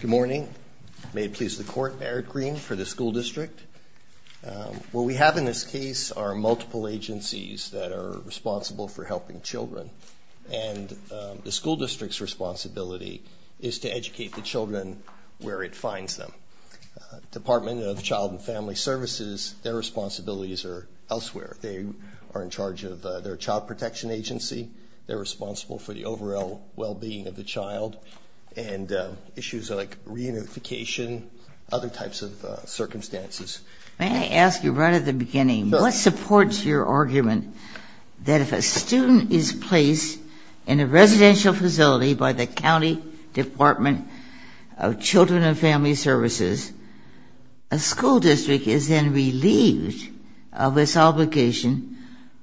Good morning. May it please the Court, Eric Green for the School District. What we have in this case are multiple agencies that are responsible for helping children, and the school district's responsibility is to educate the children where it finds them. Department of Child and Family Services, their responsibilities are elsewhere. They are in charge of their child protection agency. They are responsible for the overall well-being of the child, and issues like reunification, other types of circumstances. May I ask you right at the beginning, what supports your argument that if a student is placed in a residential facility by the County Department of Children and Family Services, a school district is then relieved of its obligation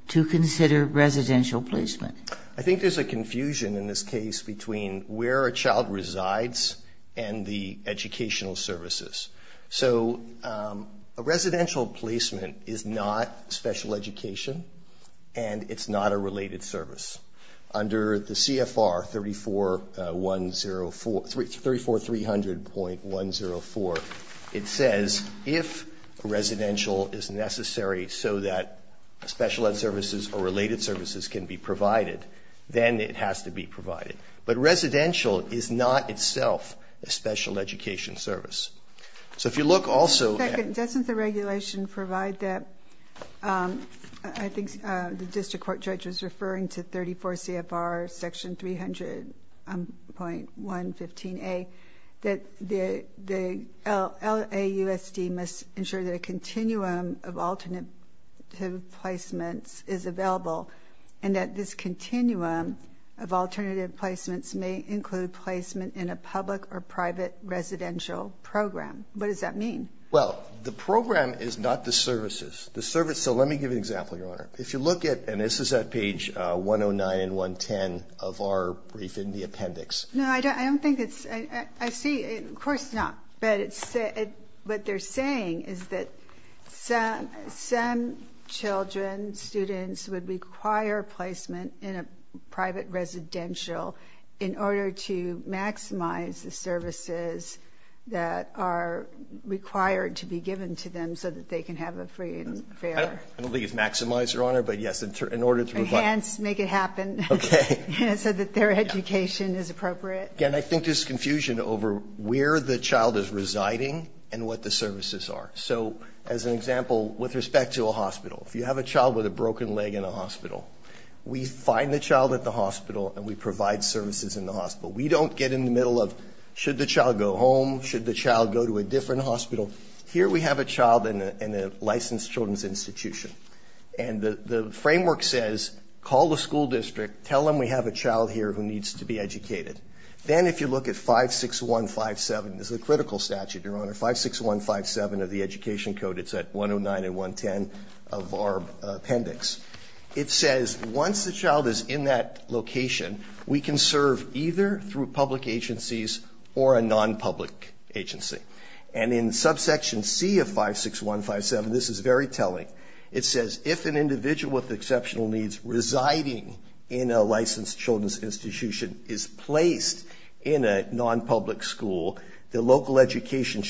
to consider residential placement? I think there's a confusion in this case between where a child resides and the educational services. So a residential placement is not special education, and it's not a related service. Under the CFR 34300.104, it says if a residential is necessary so that special ed services or related services can be provided, then it has to be provided. But residential is not itself a special education service. Second, doesn't the regulation provide that, I think the district court judge was referring to 34 CFR section 300.115A, that the LAUSD must ensure that a continuum of alternative placements is available, and that this continuum of alternative placements may include placement in a public or private residential program. What does that mean? Well, the program is not the services. So let me give you an example, Your Honor. If you look at, and this is at page 109 and 110 of our brief in the appendix. No, I don't think it's, I see, of course not. But what they're saying is that some children, students would require placement in a private residential in order to maximize the services that are required to be given to them so that they can have a free and fair. I don't think it's maximize, Your Honor, but yes, in order to provide. Enhance, make it happen. Okay. So that their education is appropriate. Again, I think there's confusion over where the child is residing and what the services are. So as an example, with respect to a hospital, if you have a child with a broken leg in a hospital, we find the child at the hospital and we provide services in the hospital. We don't get in the middle of, should the child go home? Should the child go to a different hospital? Here we have a child in a licensed children's institution. And the framework says, call the school district, tell them we have a child here who needs to be educated. Then if you look at 56157, this is a critical statute, Your Honor, 56157 of the Education Code. It's at 109 and 110 of our appendix. It says once the child is in that location, we can serve either through public agencies or a non-public agency. And in subsection C of 56157, this is very telling. It says if an individual with exceptional needs residing in a licensed children's institution is placed in a non-public school, the local education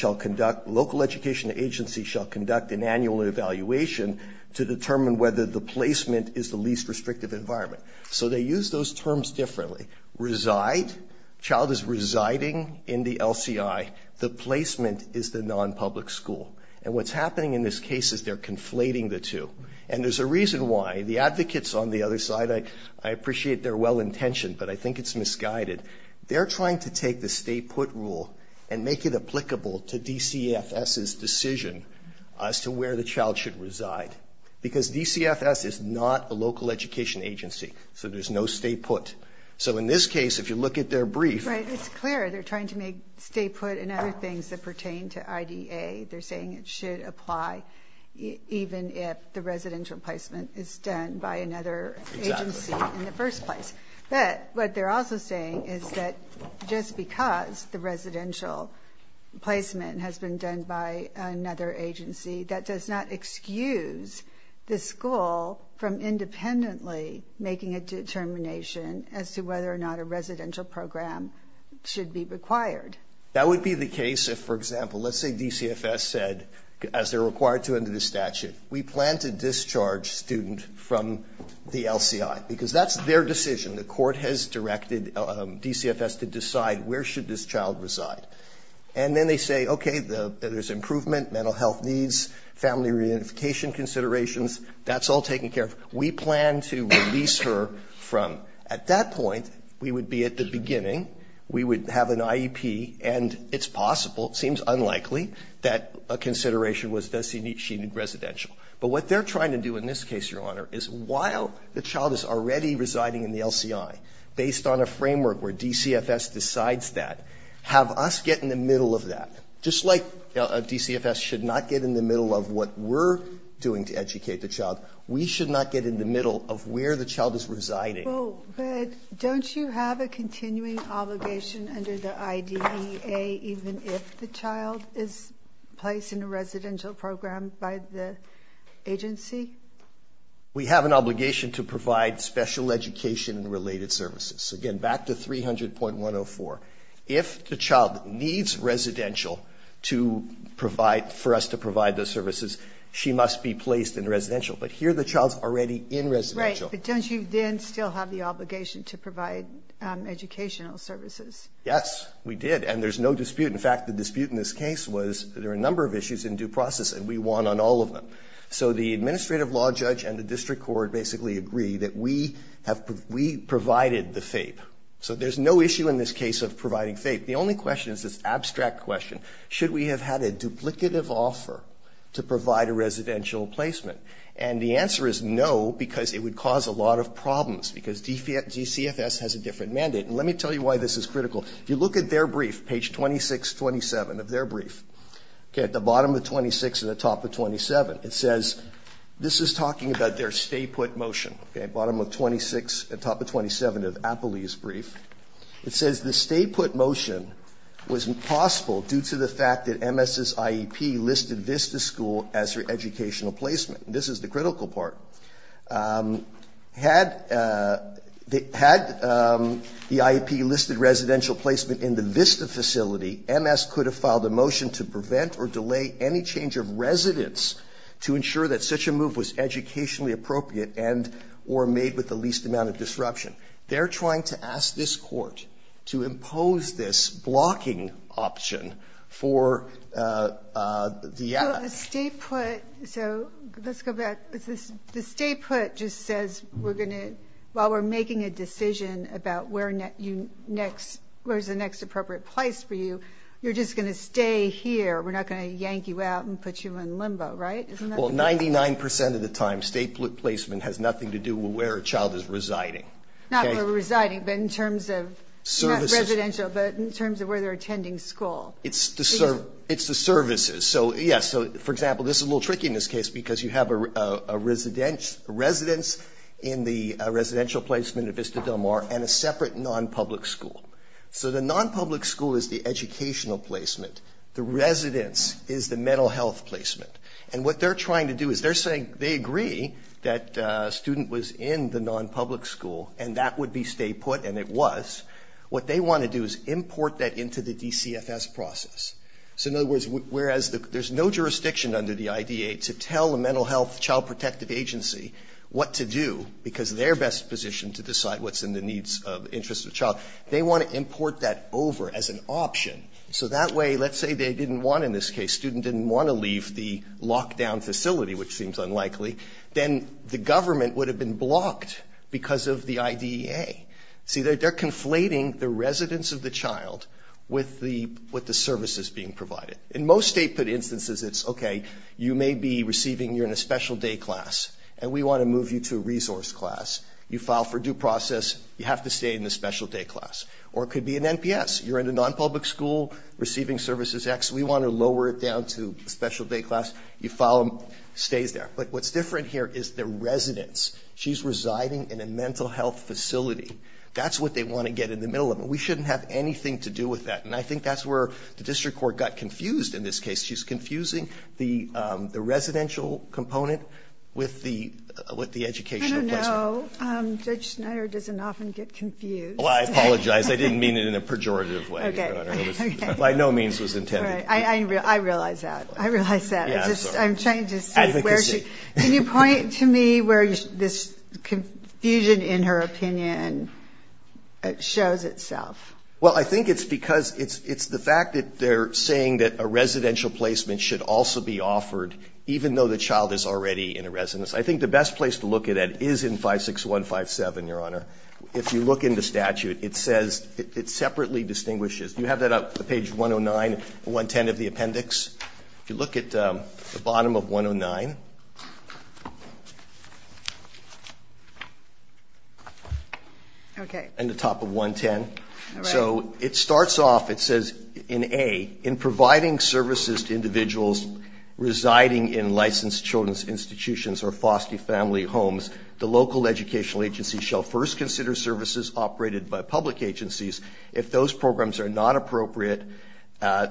agency shall conduct an annual evaluation to determine whether the placement is the least restrictive environment. So they use those terms differently. Reside, child is residing in the LCI. The placement is the non-public school. And what's happening in this case is they're conflating the two. And there's a reason why. The advocates on the other side, I appreciate their well-intentioned, but I think it's misguided. They're trying to take the stay put rule and make it applicable to DCFS's decision as to where the child should reside. Because DCFS is not a local education agency, so there's no stay put. So in this case, if you look at their brief. Right, it's clear they're trying to make stay put and other things that pertain to IDA. They're saying it should apply even if the residential placement is done by another agency in the first place. But what they're also saying is that just because the residential placement has been done by another agency, that does not excuse the school from independently making a determination as to whether or not a residential program should be required. That would be the case if, for example, let's say DCFS said, as they're required to under the statute, we plan to discharge student from the LCI. Because that's their decision. The court has directed DCFS to decide where should this child reside. And then they say, okay, there's improvement, mental health needs, family reunification considerations. That's all taken care of. We plan to release her from. At that point, we would be at the beginning. We would have an IEP, and it's possible, it seems unlikely, that a consideration was designated residential. But what they're trying to do in this case, Your Honor, is while the child is already residing in the LCI, based on a framework where DCFS decides that, have us get in the middle of that. Just like DCFS should not get in the middle of what we're doing to educate the child, we should not get in the middle of where the child is residing. Well, but don't you have a continuing obligation under the IDEA even if the child is placed in a residential program by the agency? We have an obligation to provide special education and related services. Again, back to 300.104. If the child needs residential to provide, for us to provide those services, she must be placed in residential. But here the child's already in residential. Right. But don't you then still have the obligation to provide educational services? Yes, we did. And there's no dispute. In fact, the dispute in this case was there are a number of issues in due process, and we won on all of them. So the administrative law judge and the district court basically agree that we provided the FAPE. So there's no issue in this case of providing FAPE. The only question is this abstract question. Should we have had a duplicative offer to provide a residential placement? And the answer is no, because it would cause a lot of problems, because DCFS has a different mandate. And let me tell you why this is critical. If you look at their brief, page 2627 of their brief, okay, at the bottom of 26 and the top of 27, it says this is talking about their stay-put motion, okay, bottom of 26 and top of 27 of Appley's brief. It says the stay-put motion was impossible due to the fact that MS's IEP listed VISTA school as her educational placement. This is the critical part. Had the IEP listed residential placement in the VISTA facility, MS could have filed a motion to prevent or delay any change of residence to ensure that such a move was educationally appropriate and or made with the least amount of disruption. They're trying to ask this court to impose this blocking option for the act. The stay-put, so let's go back. The stay-put just says we're going to, while we're making a decision about where is the next appropriate place for you, you're just going to stay here. We're not going to yank you out and put you in limbo, right? Well, 99% of the time, stay-put placement has nothing to do with where a child is residing. Not where they're residing, but in terms of residential, but in terms of where they're attending school. It's the services. Yes, so for example, this is a little tricky in this case because you have a residence in the residential placement at Vista Del Mar and a separate non-public school. So the non-public school is the educational placement. The residence is the mental health placement. And what they're trying to do is they're saying they agree that a student was in the non-public school and that would be stay-put and it was. What they want to do is import that into the DCFS process. So in other words, whereas there's no jurisdiction under the IDEA to tell a mental health child protective agency what to do because they're best positioned to decide what's in the needs of the interest of the child. They want to import that over as an option. So that way, let's say they didn't want in this case, the student didn't want to leave the lockdown facility, which seems unlikely, then the government would have been blocked because of the IDEA. See, they're conflating the residence of the child with the, with the services being provided. In most state-put instances, it's, okay, you may be receiving, you're in a special day class and we want to move you to a resource class. You file for due process. You have to stay in the special day class. Or it could be an NPS. You're in a non-public school receiving services X. We want to lower it down to a special day class. You file, stays there. But what's different here is the residence. She's residing in a mental health facility. That's what they want to get in the middle of. And we shouldn't have anything to do with that. And I think that's where the district court got confused in this case. She's confusing the, the residential component with the, with the educational placement. I don't know. Judge Snyder doesn't often get confused. Well, I apologize. I didn't mean it in a pejorative way, Your Honor. Okay. By no means was intended. I realize that. I realize that. I'm just, I'm trying to see where she, can you point to me where this confusion in her opinion shows itself? Well, I think it's because it's, it's the fact that they're saying that a residential placement should also be offered, even though the child is already in a residence. I think the best place to look at it is in 56157, Your Honor. If you look in the statute, it says, it separately distinguishes. Do you have that on page 109 and 110 of the appendix? If you look at the bottom of 109. Okay. And the top of 110. All right. So, it starts off, it says, in A, in providing services to individuals residing in licensed children's institutions or foster family homes, the local educational agency shall first consider services operated by public agencies. If those programs are not appropriate,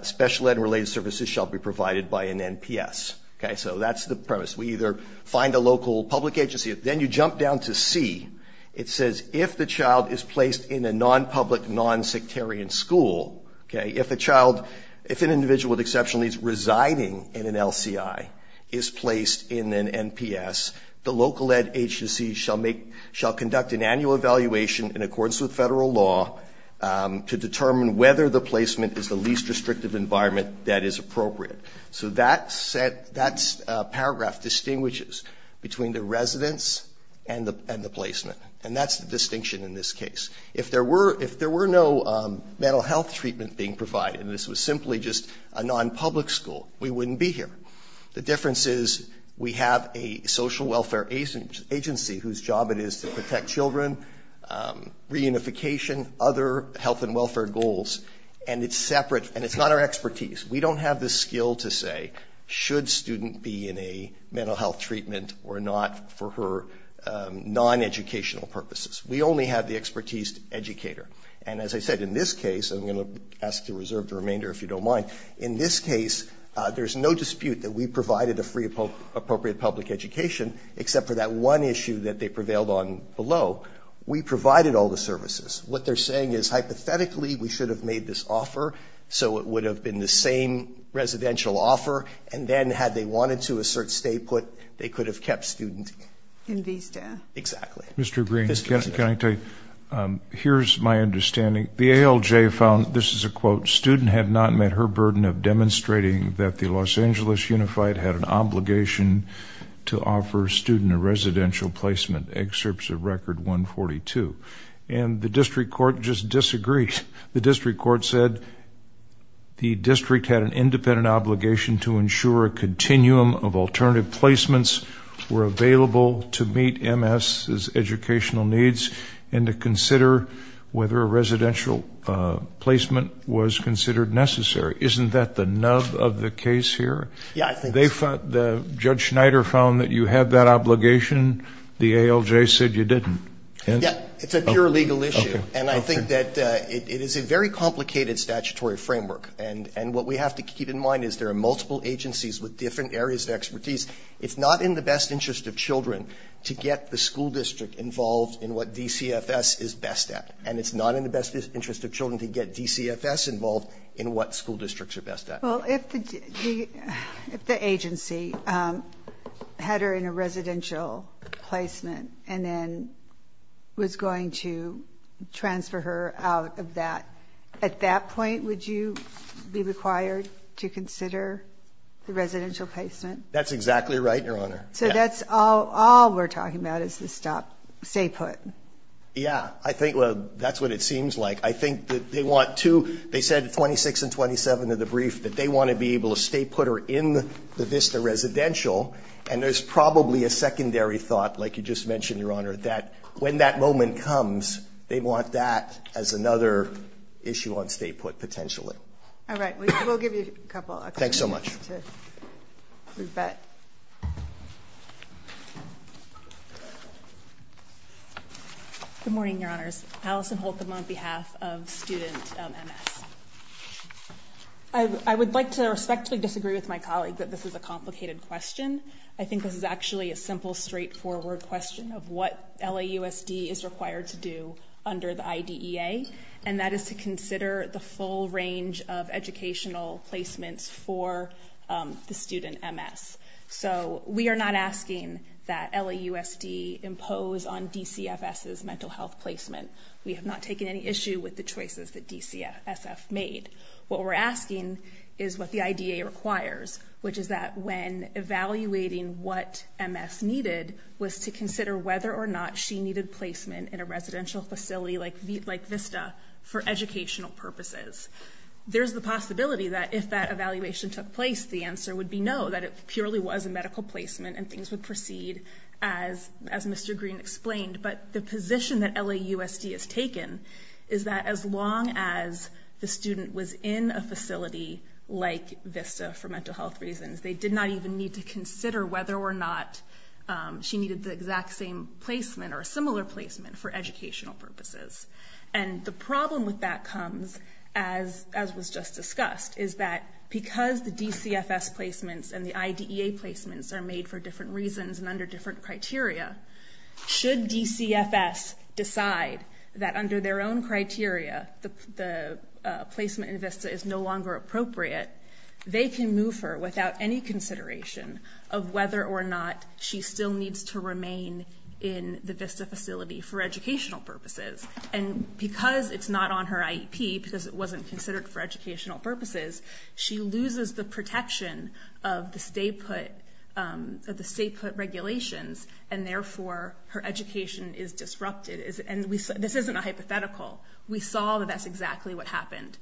special ed related services shall be provided by an NPS. Okay. So, that's the premise. We either find a local public agency. Then you jump down to C. It says, if the child is placed in a non-public, non-sectarian school, okay, if a child, if an individual with exceptional needs residing in an LCI is placed in an NPS, the local ed agency shall make, shall conduct an annual evaluation in accordance with federal law to determine whether the placement is the least restrictive environment that is appropriate. So, that paragraph distinguishes between the residence and the placement. And that's the distinction in this case. If there were no mental health treatment being provided, and this was simply just a non-public school, we wouldn't be here. The difference is, we have a social welfare agency whose job it is to protect children, reunification, other health and welfare goals, and it's separate, and it's not our expertise. We don't have the skill to say, should student be in a mental health treatment or not for her non-educational purposes. We only have the expertise to educate her. And as I said, in this case, I'm going to ask to reserve the remainder if you don't mind. In this case, there's no dispute that we provided a free, appropriate public education, except for that one issue that they prevailed on below. We provided all the services. What they're saying is, hypothetically, we should have made this offer so it would have been the same residential offer, and then had they wanted to, a certain state put, they could have kept student. In vista. Exactly. Mr. Green, can I tell you, here's my understanding. The ALJ found, this is a quote, student had not met her burden of demonstrating that the Los Angeles Unified had an obligation to offer student a residential placement. Excerpts of Record 142. And the district court just disagreed. The district court said, the district had an independent obligation to ensure a continuum of alternative placements were available to meet MS's educational needs, and to consider whether a residential placement was considered necessary. Isn't that the nub of the case here? Yeah, I think so. They thought, Judge Schneider found that you had that obligation. The ALJ said you didn't. Yeah, it's a pure legal issue. And I think that it is a very complicated statutory framework. And what we have to keep in mind is there are multiple agencies with different areas of expertise. It's not in the best interest of children to get the school district involved in what DCFS is best at. And it's not in the best interest of children to get DCFS involved in what school districts are best at. Well, if the agency had her in a residential placement, and then was going to transfer her out of that, at that point would you be required to consider the residential placement? That's exactly right, Your Honor. So that's all we're talking about is the stop, stay put. Yeah, I think that's what it seems like. I think that they want to, they said 26 and 27 of the brief that they want to be able to stay put her in the VISTA residential. And there's probably a secondary thought like you just mentioned, Your Honor, that when that moment comes, they want that as another issue on stay put potentially. All right. We'll give you a couple. Thanks so much. Good morning, Your Honors. Allison Holcomb on behalf of student MS. I would like to respectfully disagree with my colleague that this is a question. I think this is actually a simple, straightforward question of what LAUSD is required to do under the IDEA. And that is to consider the full range of educational placements for the student MS. So we are not asking that LAUSD impose on DCFS's mental health placement. We have not taken any issue with the choices that DCSF made. What we're asking is what the IDEA requires, which is that when evaluating what MS needed, was to consider whether or not she needed placement in a residential facility like VISTA for educational purposes. There's the possibility that if that evaluation took place, the answer would be no, that it purely was a medical placement and things would proceed as Mr. Green explained. But the position that LAUSD has taken is that as long as the student was in a residential facility, for educational health reasons, they did not even need to consider whether or not she needed the exact same placement or a similar placement for educational purposes. And the problem with that comes, as was just discussed, is that because the DCFS placements and the IDEA placements are made for different reasons and under different criteria, should DCFS decide that under their own criteria, the placement in VISTA is no longer appropriate, they can move her without any consideration of whether or not she still needs to remain in the VISTA facility for educational purposes. And because it's not on her IEP, because it wasn't considered for educational purposes, she loses the protection of the state put regulations, and therefore her education is disrupted. And this isn't a hypothetical. We saw that that's exactly what happened.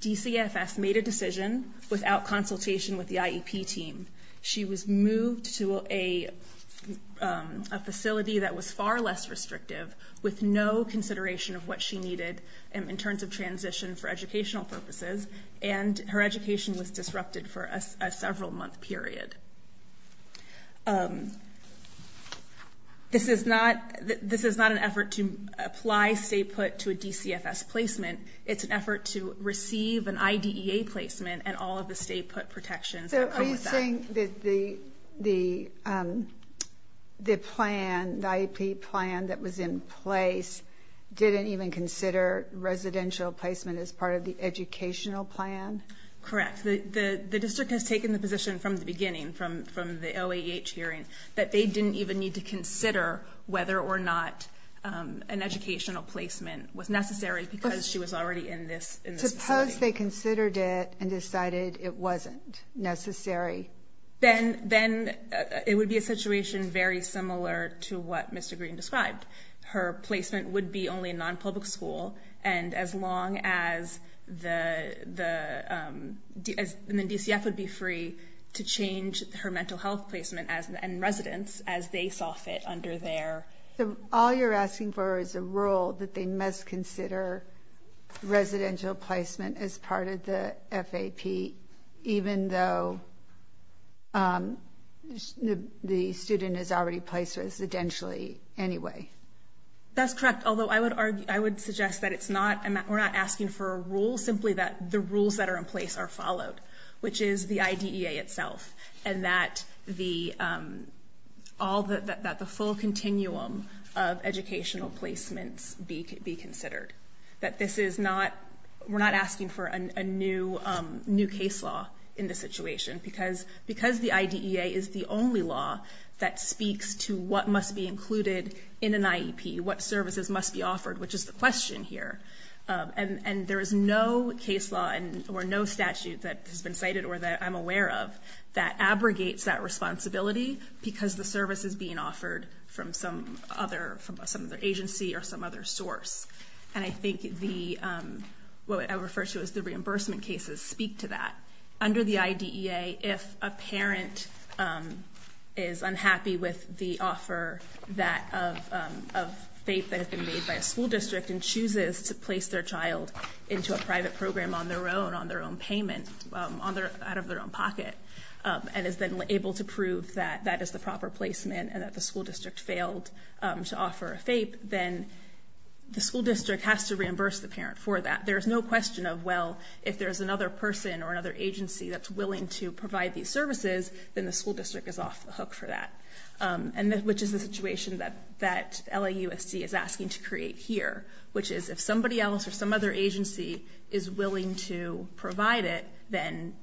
DCFS made a decision without consultation with the IEP team. She was moved to a facility that was far less restrictive, with no consideration of what she needed in terms of transition for educational purposes, and her education was disrupted for a several-month period. This is not an effort to apply state put to a DCFS placement. It's an effort to receive an IDEA placement and all of the state put protections. So are you saying that the plan, the IEP plan that was in place, didn't even consider residential placement as part of the educational plan? Correct. The district has taken the position from the beginning, from the OAH hearing, that they didn't even need to consider whether or not an educational placement was necessary because she was already in this facility. Suppose they considered it and decided it wasn't necessary. Then it would be a situation very similar to what Mr. Green described. Her placement would be only in non-public school, and as long as the DCF would be free to change her mental health placement and residence as they saw fit under their. All you're asking for is a rule that they must consider residential placement as part of the FAP, even though the student is already placed residentially anyway. That's correct, although I would suggest that we're not asking for a rule, simply that the rules that are in place are followed, which is the IDEA itself, and that the full continuum of educational placements be considered. We're not asking for a new case law in this situation because the IDEA is the only law that speaks to what must be included in an IEP, what services must be offered, which is the question here. There is no case law or no statute that has been cited or that I'm aware of that abrogates that responsibility because the service is being offered from some other agency or some other source. I think what I would refer to as the reimbursement cases speak to that. Under the IDEA, if a parent is unhappy with the offer of FAPE that had been made by a school district and chooses to place their child into a private program on their own, on their own payment, out of their own pocket, and is then able to prove that that is the proper placement and that the school district failed to offer a FAPE, then the school district has to reimburse the parent for that. There's no question of, well, if there's another person or another agency that's willing to provide these services, then the school district is off the hook for that, which is the situation that LAUFC is asking to create here, which is if somebody else or some other agency is willing to provide it, then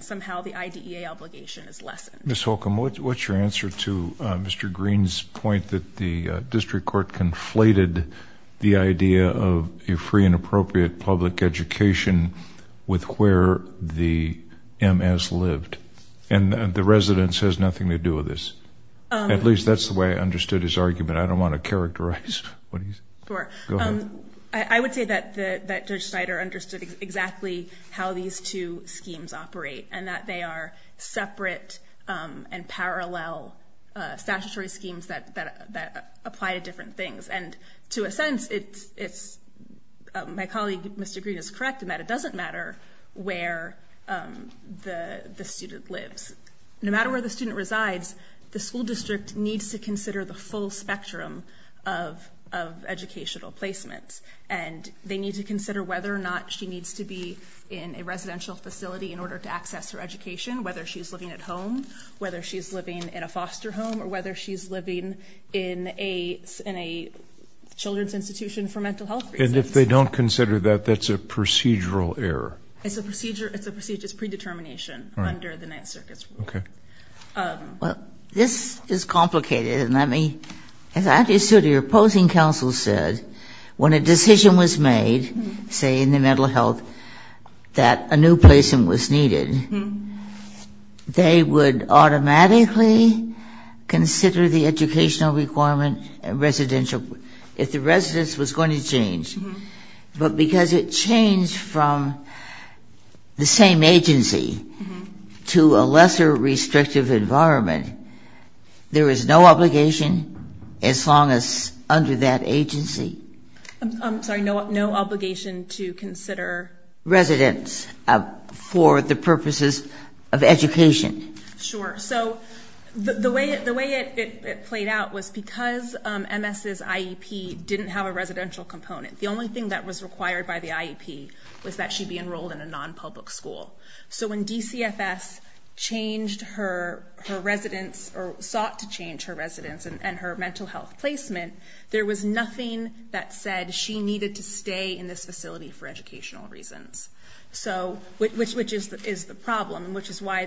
somehow the IDEA obligation is lessened. Ms. Holcomb, what's your answer to Mr. Green's point that the district court conflated the idea of a free and appropriate public education with where the MS lived? And the residence has nothing to do with this. At least that's the way I understood his argument. I don't want to characterize what he said. Sure. Go ahead. I would say that Judge Snyder understood exactly how these two schemes operate and that they are separate and parallel statutory schemes that apply to different things. And to a sense, my colleague, Mr. Green, is correct in that it doesn't matter where the student lives. No matter where the student resides, the school district needs to consider the full spectrum of educational placements. And they need to consider whether or not she needs to be in a residential facility in order to access her education, whether she's living at home, whether she's living in a foster home, or whether she's living in a children's institution for mental health reasons. And if they don't consider that, that's a procedural error? It's a procedure. It's a procedure. It's predetermination under the Ninth Circuit's rule. Okay. Well, this is complicated. And, I mean, as I understood what your opposing counsel said, when a decision was made, say in the mental health, that a new placement was needed, they would automatically consider the educational requirement residential if the residence was going to change. But because it changed from the same agency to a lesser restrictive environment, there is no obligation as long as under that agency. I'm sorry. No obligation to consider residents for the purposes of education. Sure. So the way it played out was because MS's IEP didn't have a residential component. The only thing that was required by the IEP was that she be enrolled in a non-public school. So when DCFS sought to change her residence and her mental health placement, there was nothing that said she needed to stay in this facility for educational reasons, which is the problem, which is why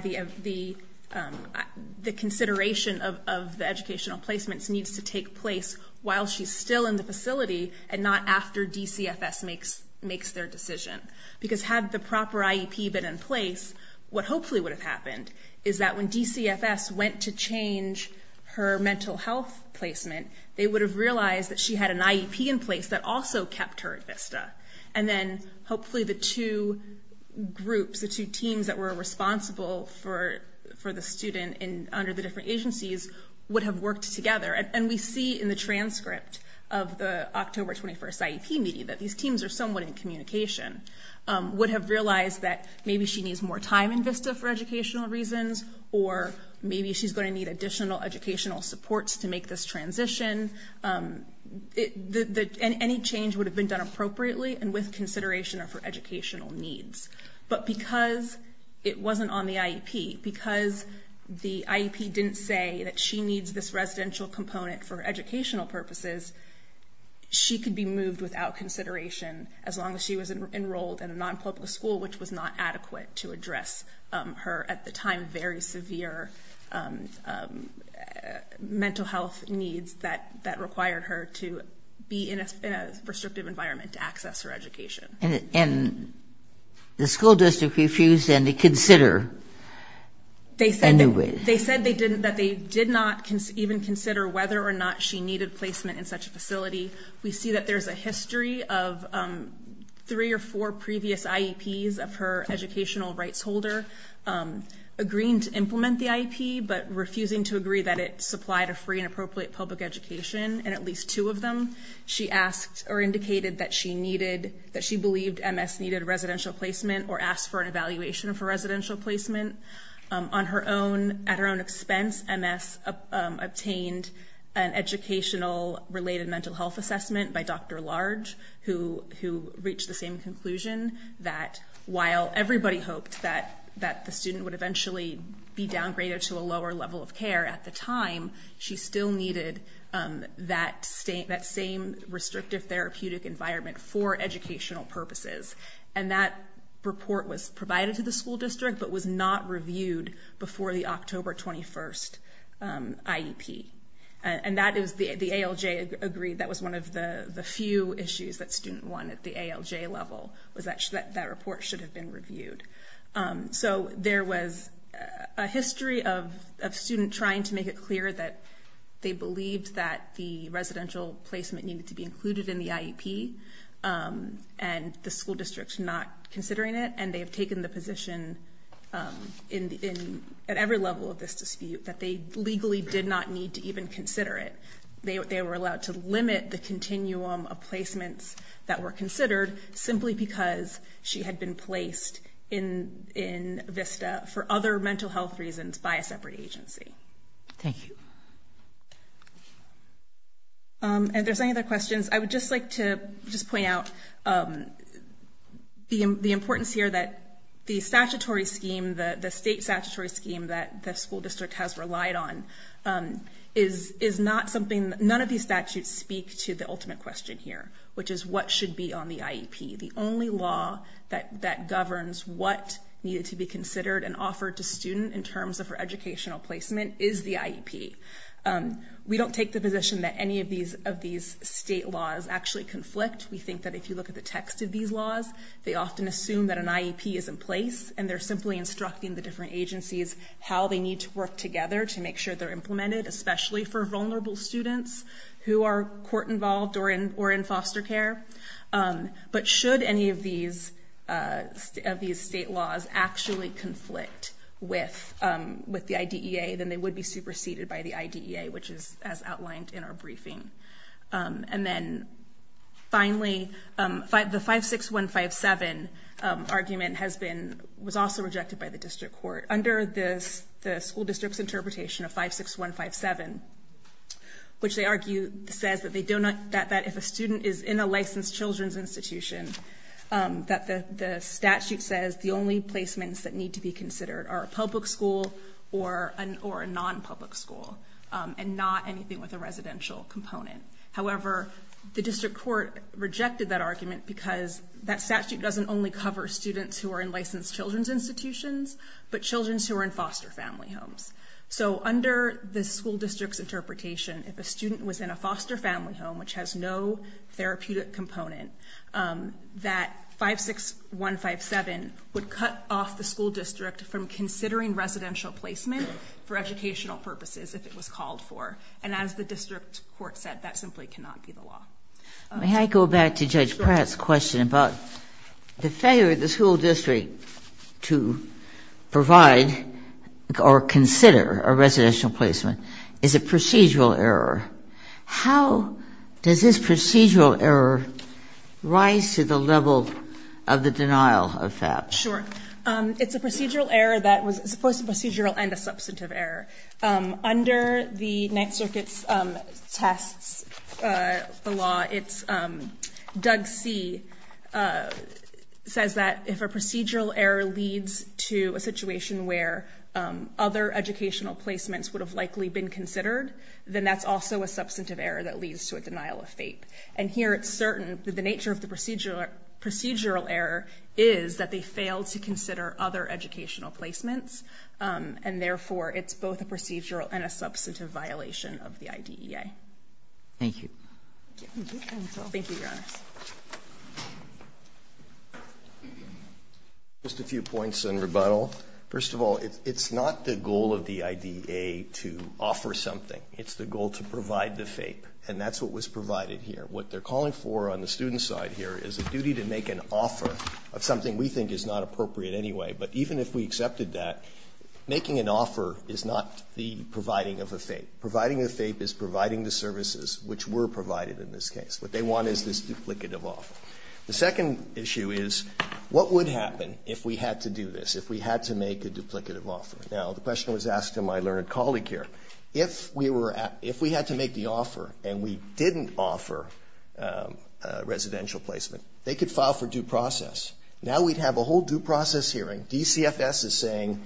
the consideration of the educational placements needs to take place while she's still in the facility and not after DCFS makes their decision. Because had the proper IEP been in place, what hopefully would have happened is that when DCFS went to change her mental health placement, they would have realized that she had an IEP in place that also kept her at VISTA. And then hopefully the two groups, the two teams that were responsible for the student under the different agencies would have worked together. And we see in the transcript of the October 21st IEP meeting that these teams are somewhat in communication, would have realized that maybe she needs more time in VISTA for educational reasons, or maybe she's going to need additional educational supports to make this transition. Any change would have been done appropriately and with consideration of her educational needs. But because it wasn't on the IEP, because the IEP didn't say that she needs this residential component for educational purposes, she could be moved without consideration as long as she was enrolled in a non-public school, which was not adequate to address her at the time very severe mental health needs that required her to be in a restrictive environment to access her education. And the school district refused to consider. They said that they did not even consider whether or not she needed placement in such a facility. We see that there's a history of three or four previous IEPs of her educational rights holder agreeing to implement the IEP, but refusing to agree that it supplied a free and appropriate public education in at least two of them. She asked or indicated that she believed MS needed residential placement or asked for an evaluation for residential placement. At her own expense, MS obtained an educational-related mental health assessment by Dr. Large, who reached the same conclusion that while everybody hoped that the student would eventually be downgraded to a lower level of care, at the time she still needed that same restrictive therapeutic environment for educational purposes. And that report was provided to the school district, but was not reviewed before the October 21st IEP. And the ALJ agreed that was one of the few issues that student won at the ALJ level, So there was a history of a student trying to make it clear that they believed that the residential placement needed to be included in the IEP, and the school district not considering it. And they have taken the position at every level of this dispute that they legally did not need to even consider it. They were allowed to limit the continuum of placements that were considered, simply because she had been placed in VISTA for other mental health reasons by a separate agency. Thank you. If there's any other questions, I would just like to just point out the importance here that the statutory scheme, the state statutory scheme that the school district has relied on, is not something, none of these statutes speak to the ultimate question here, which is what should be on the IEP. The only law that governs what needed to be considered and offered to student in terms of her educational placement is the IEP. We don't take the position that any of these state laws actually conflict. We think that if you look at the text of these laws, they often assume that an IEP is in place, and they're simply instructing the different agencies how they need to work together to make sure they're implemented, especially for vulnerable students who are court involved or in foster care. But should any of these state laws actually conflict with the IDEA, then they would be superseded by the IDEA, which is as outlined in our briefing. And then finally, the 56157 argument was also rejected by the district court. Under the school district's interpretation of 56157, which they argue says that if a student is in a licensed children's institution, that the statute says the only placements that need to be considered are a public school or a non-public school and not anything with a residential component. However, the district court rejected that argument because that statute doesn't only cover students who are in licensed children's institutions, but children who are in foster family homes. So under the school district's interpretation, if a student was in a foster family home which has no therapeutic component, that 56157 would cut off the school district from considering residential placement for educational purposes if it was called for. And as the district court said, that simply cannot be the law. May I go back to Judge Pratt's question about the failure of the school district to provide or consider a residential placement is a procedural error. How does this procedural error rise to the level of the denial of FAP? Sure. It's a procedural error that was supposed to be procedural and a substantive error. Under the Ninth Circuit's tests, the law, it's – Doug C. says that if a procedural error leads to a situation where other educational placements would have likely been considered, then that's also a substantive error that leads to a denial of FAP. And here it's certain that the nature of the procedural error is that they failed to consider other educational placements, and therefore it's both a procedural and a substantive violation of the IDEA. Thank you. Thank you, Your Honor. Just a few points in rebuttal. First of all, it's not the goal of the IDEA to offer something. It's the goal to provide the FAP, and that's what was provided here. What they're calling for on the student side here is a duty to make an offer of something we think is not appropriate anyway. But even if we accepted that, making an offer is not the providing of a FAP. Providing a FAP is providing the services which were provided in this case. What they want is this duplicative offer. The second issue is what would happen if we had to do this, if we had to make a duplicative offer? Now, the question was asked to my learned colleague here. If we had to make the offer and we didn't offer a residential placement, they could file for due process. Now we'd have a whole due process hearing. DCFS is saying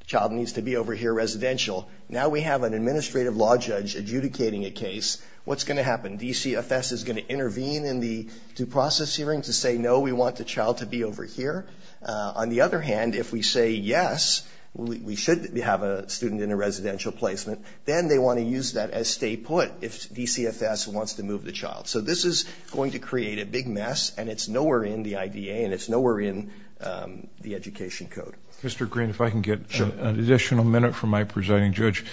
the child needs to be over here residential. Now we have an administrative law judge adjudicating a case. What's going to happen? DCFS is going to intervene in the due process hearing to say, no, we want the child to be over here. On the other hand, if we say, yes, we should have a student in a residential placement, then they want to use that as stay put if DCFS wants to move the child. So this is going to create a big mess, and it's nowhere in the IDEA, and it's nowhere in the education code. Mr. Green, if I can get an additional minute from my presiding judge.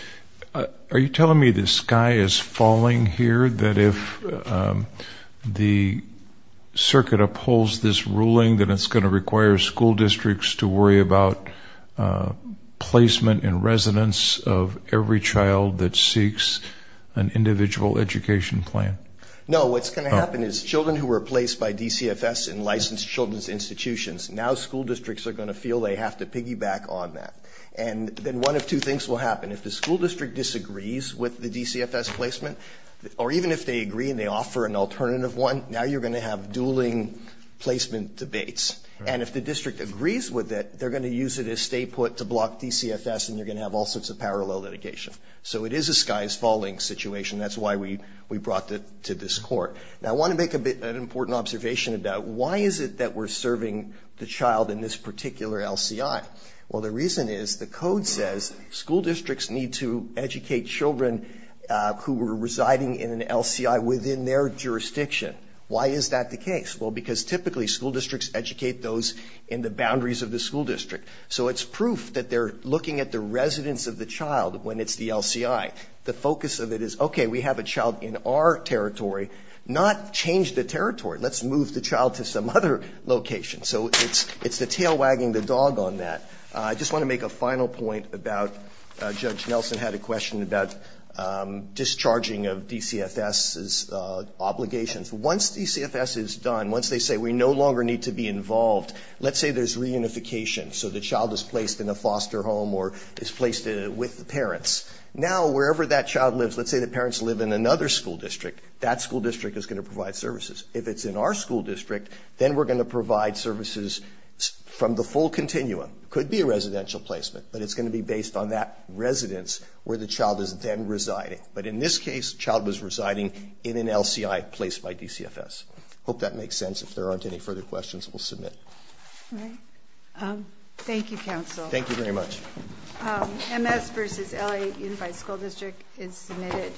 Are you telling me the sky is falling here, that if the circuit upholds this ruling, that it's going to require school districts to worry about placement in residence of every child that seeks an individual education plan? No, what's going to happen is children who were placed by DCFS in licensed children's institutions, now school districts are going to feel they have to piggyback on that. And then one of two things will happen. If the school district disagrees with the DCFS placement, or even if they agree and they offer an alternative one, now you're going to have dueling placement debates. And if the district agrees with it, they're going to use it as stay put to block DCFS, and you're going to have all sorts of parallel litigation. So it is a sky is falling situation. That's why we brought it to this court. Now, I want to make an important observation about why is it that we're serving the child in this particular LCI. Well, the reason is the code says school districts need to educate children who are residing in an LCI within their jurisdiction. Why is that the case? Well, because typically school districts educate those in the boundaries of the school district. So it's proof that they're looking at the residence of the child when it's the LCI. The focus of it is, okay, we have a child in our territory. Not change the territory. Let's move the child to some other location. So it's the tail wagging the dog on that. I just want to make a final point about Judge Nelson had a question about discharging of DCFS's obligations. Once DCFS is done, once they say we no longer need to be involved, let's say there's reunification, so the child is placed in a foster home or is placed with the parents. Now, wherever that child lives, let's say the parents live in another school district, that school district is going to provide services. If it's in our school district, then we're going to provide services from the full continuum. It could be a residential placement, but it's going to be based on that residence where the child is then residing. But in this case, the child was residing in an LCI placed by DCFS. I hope that makes sense. If there aren't any further questions, we'll submit. All right. Thank you, counsel. Thank you very much. MS versus LA Unified School District is submitted.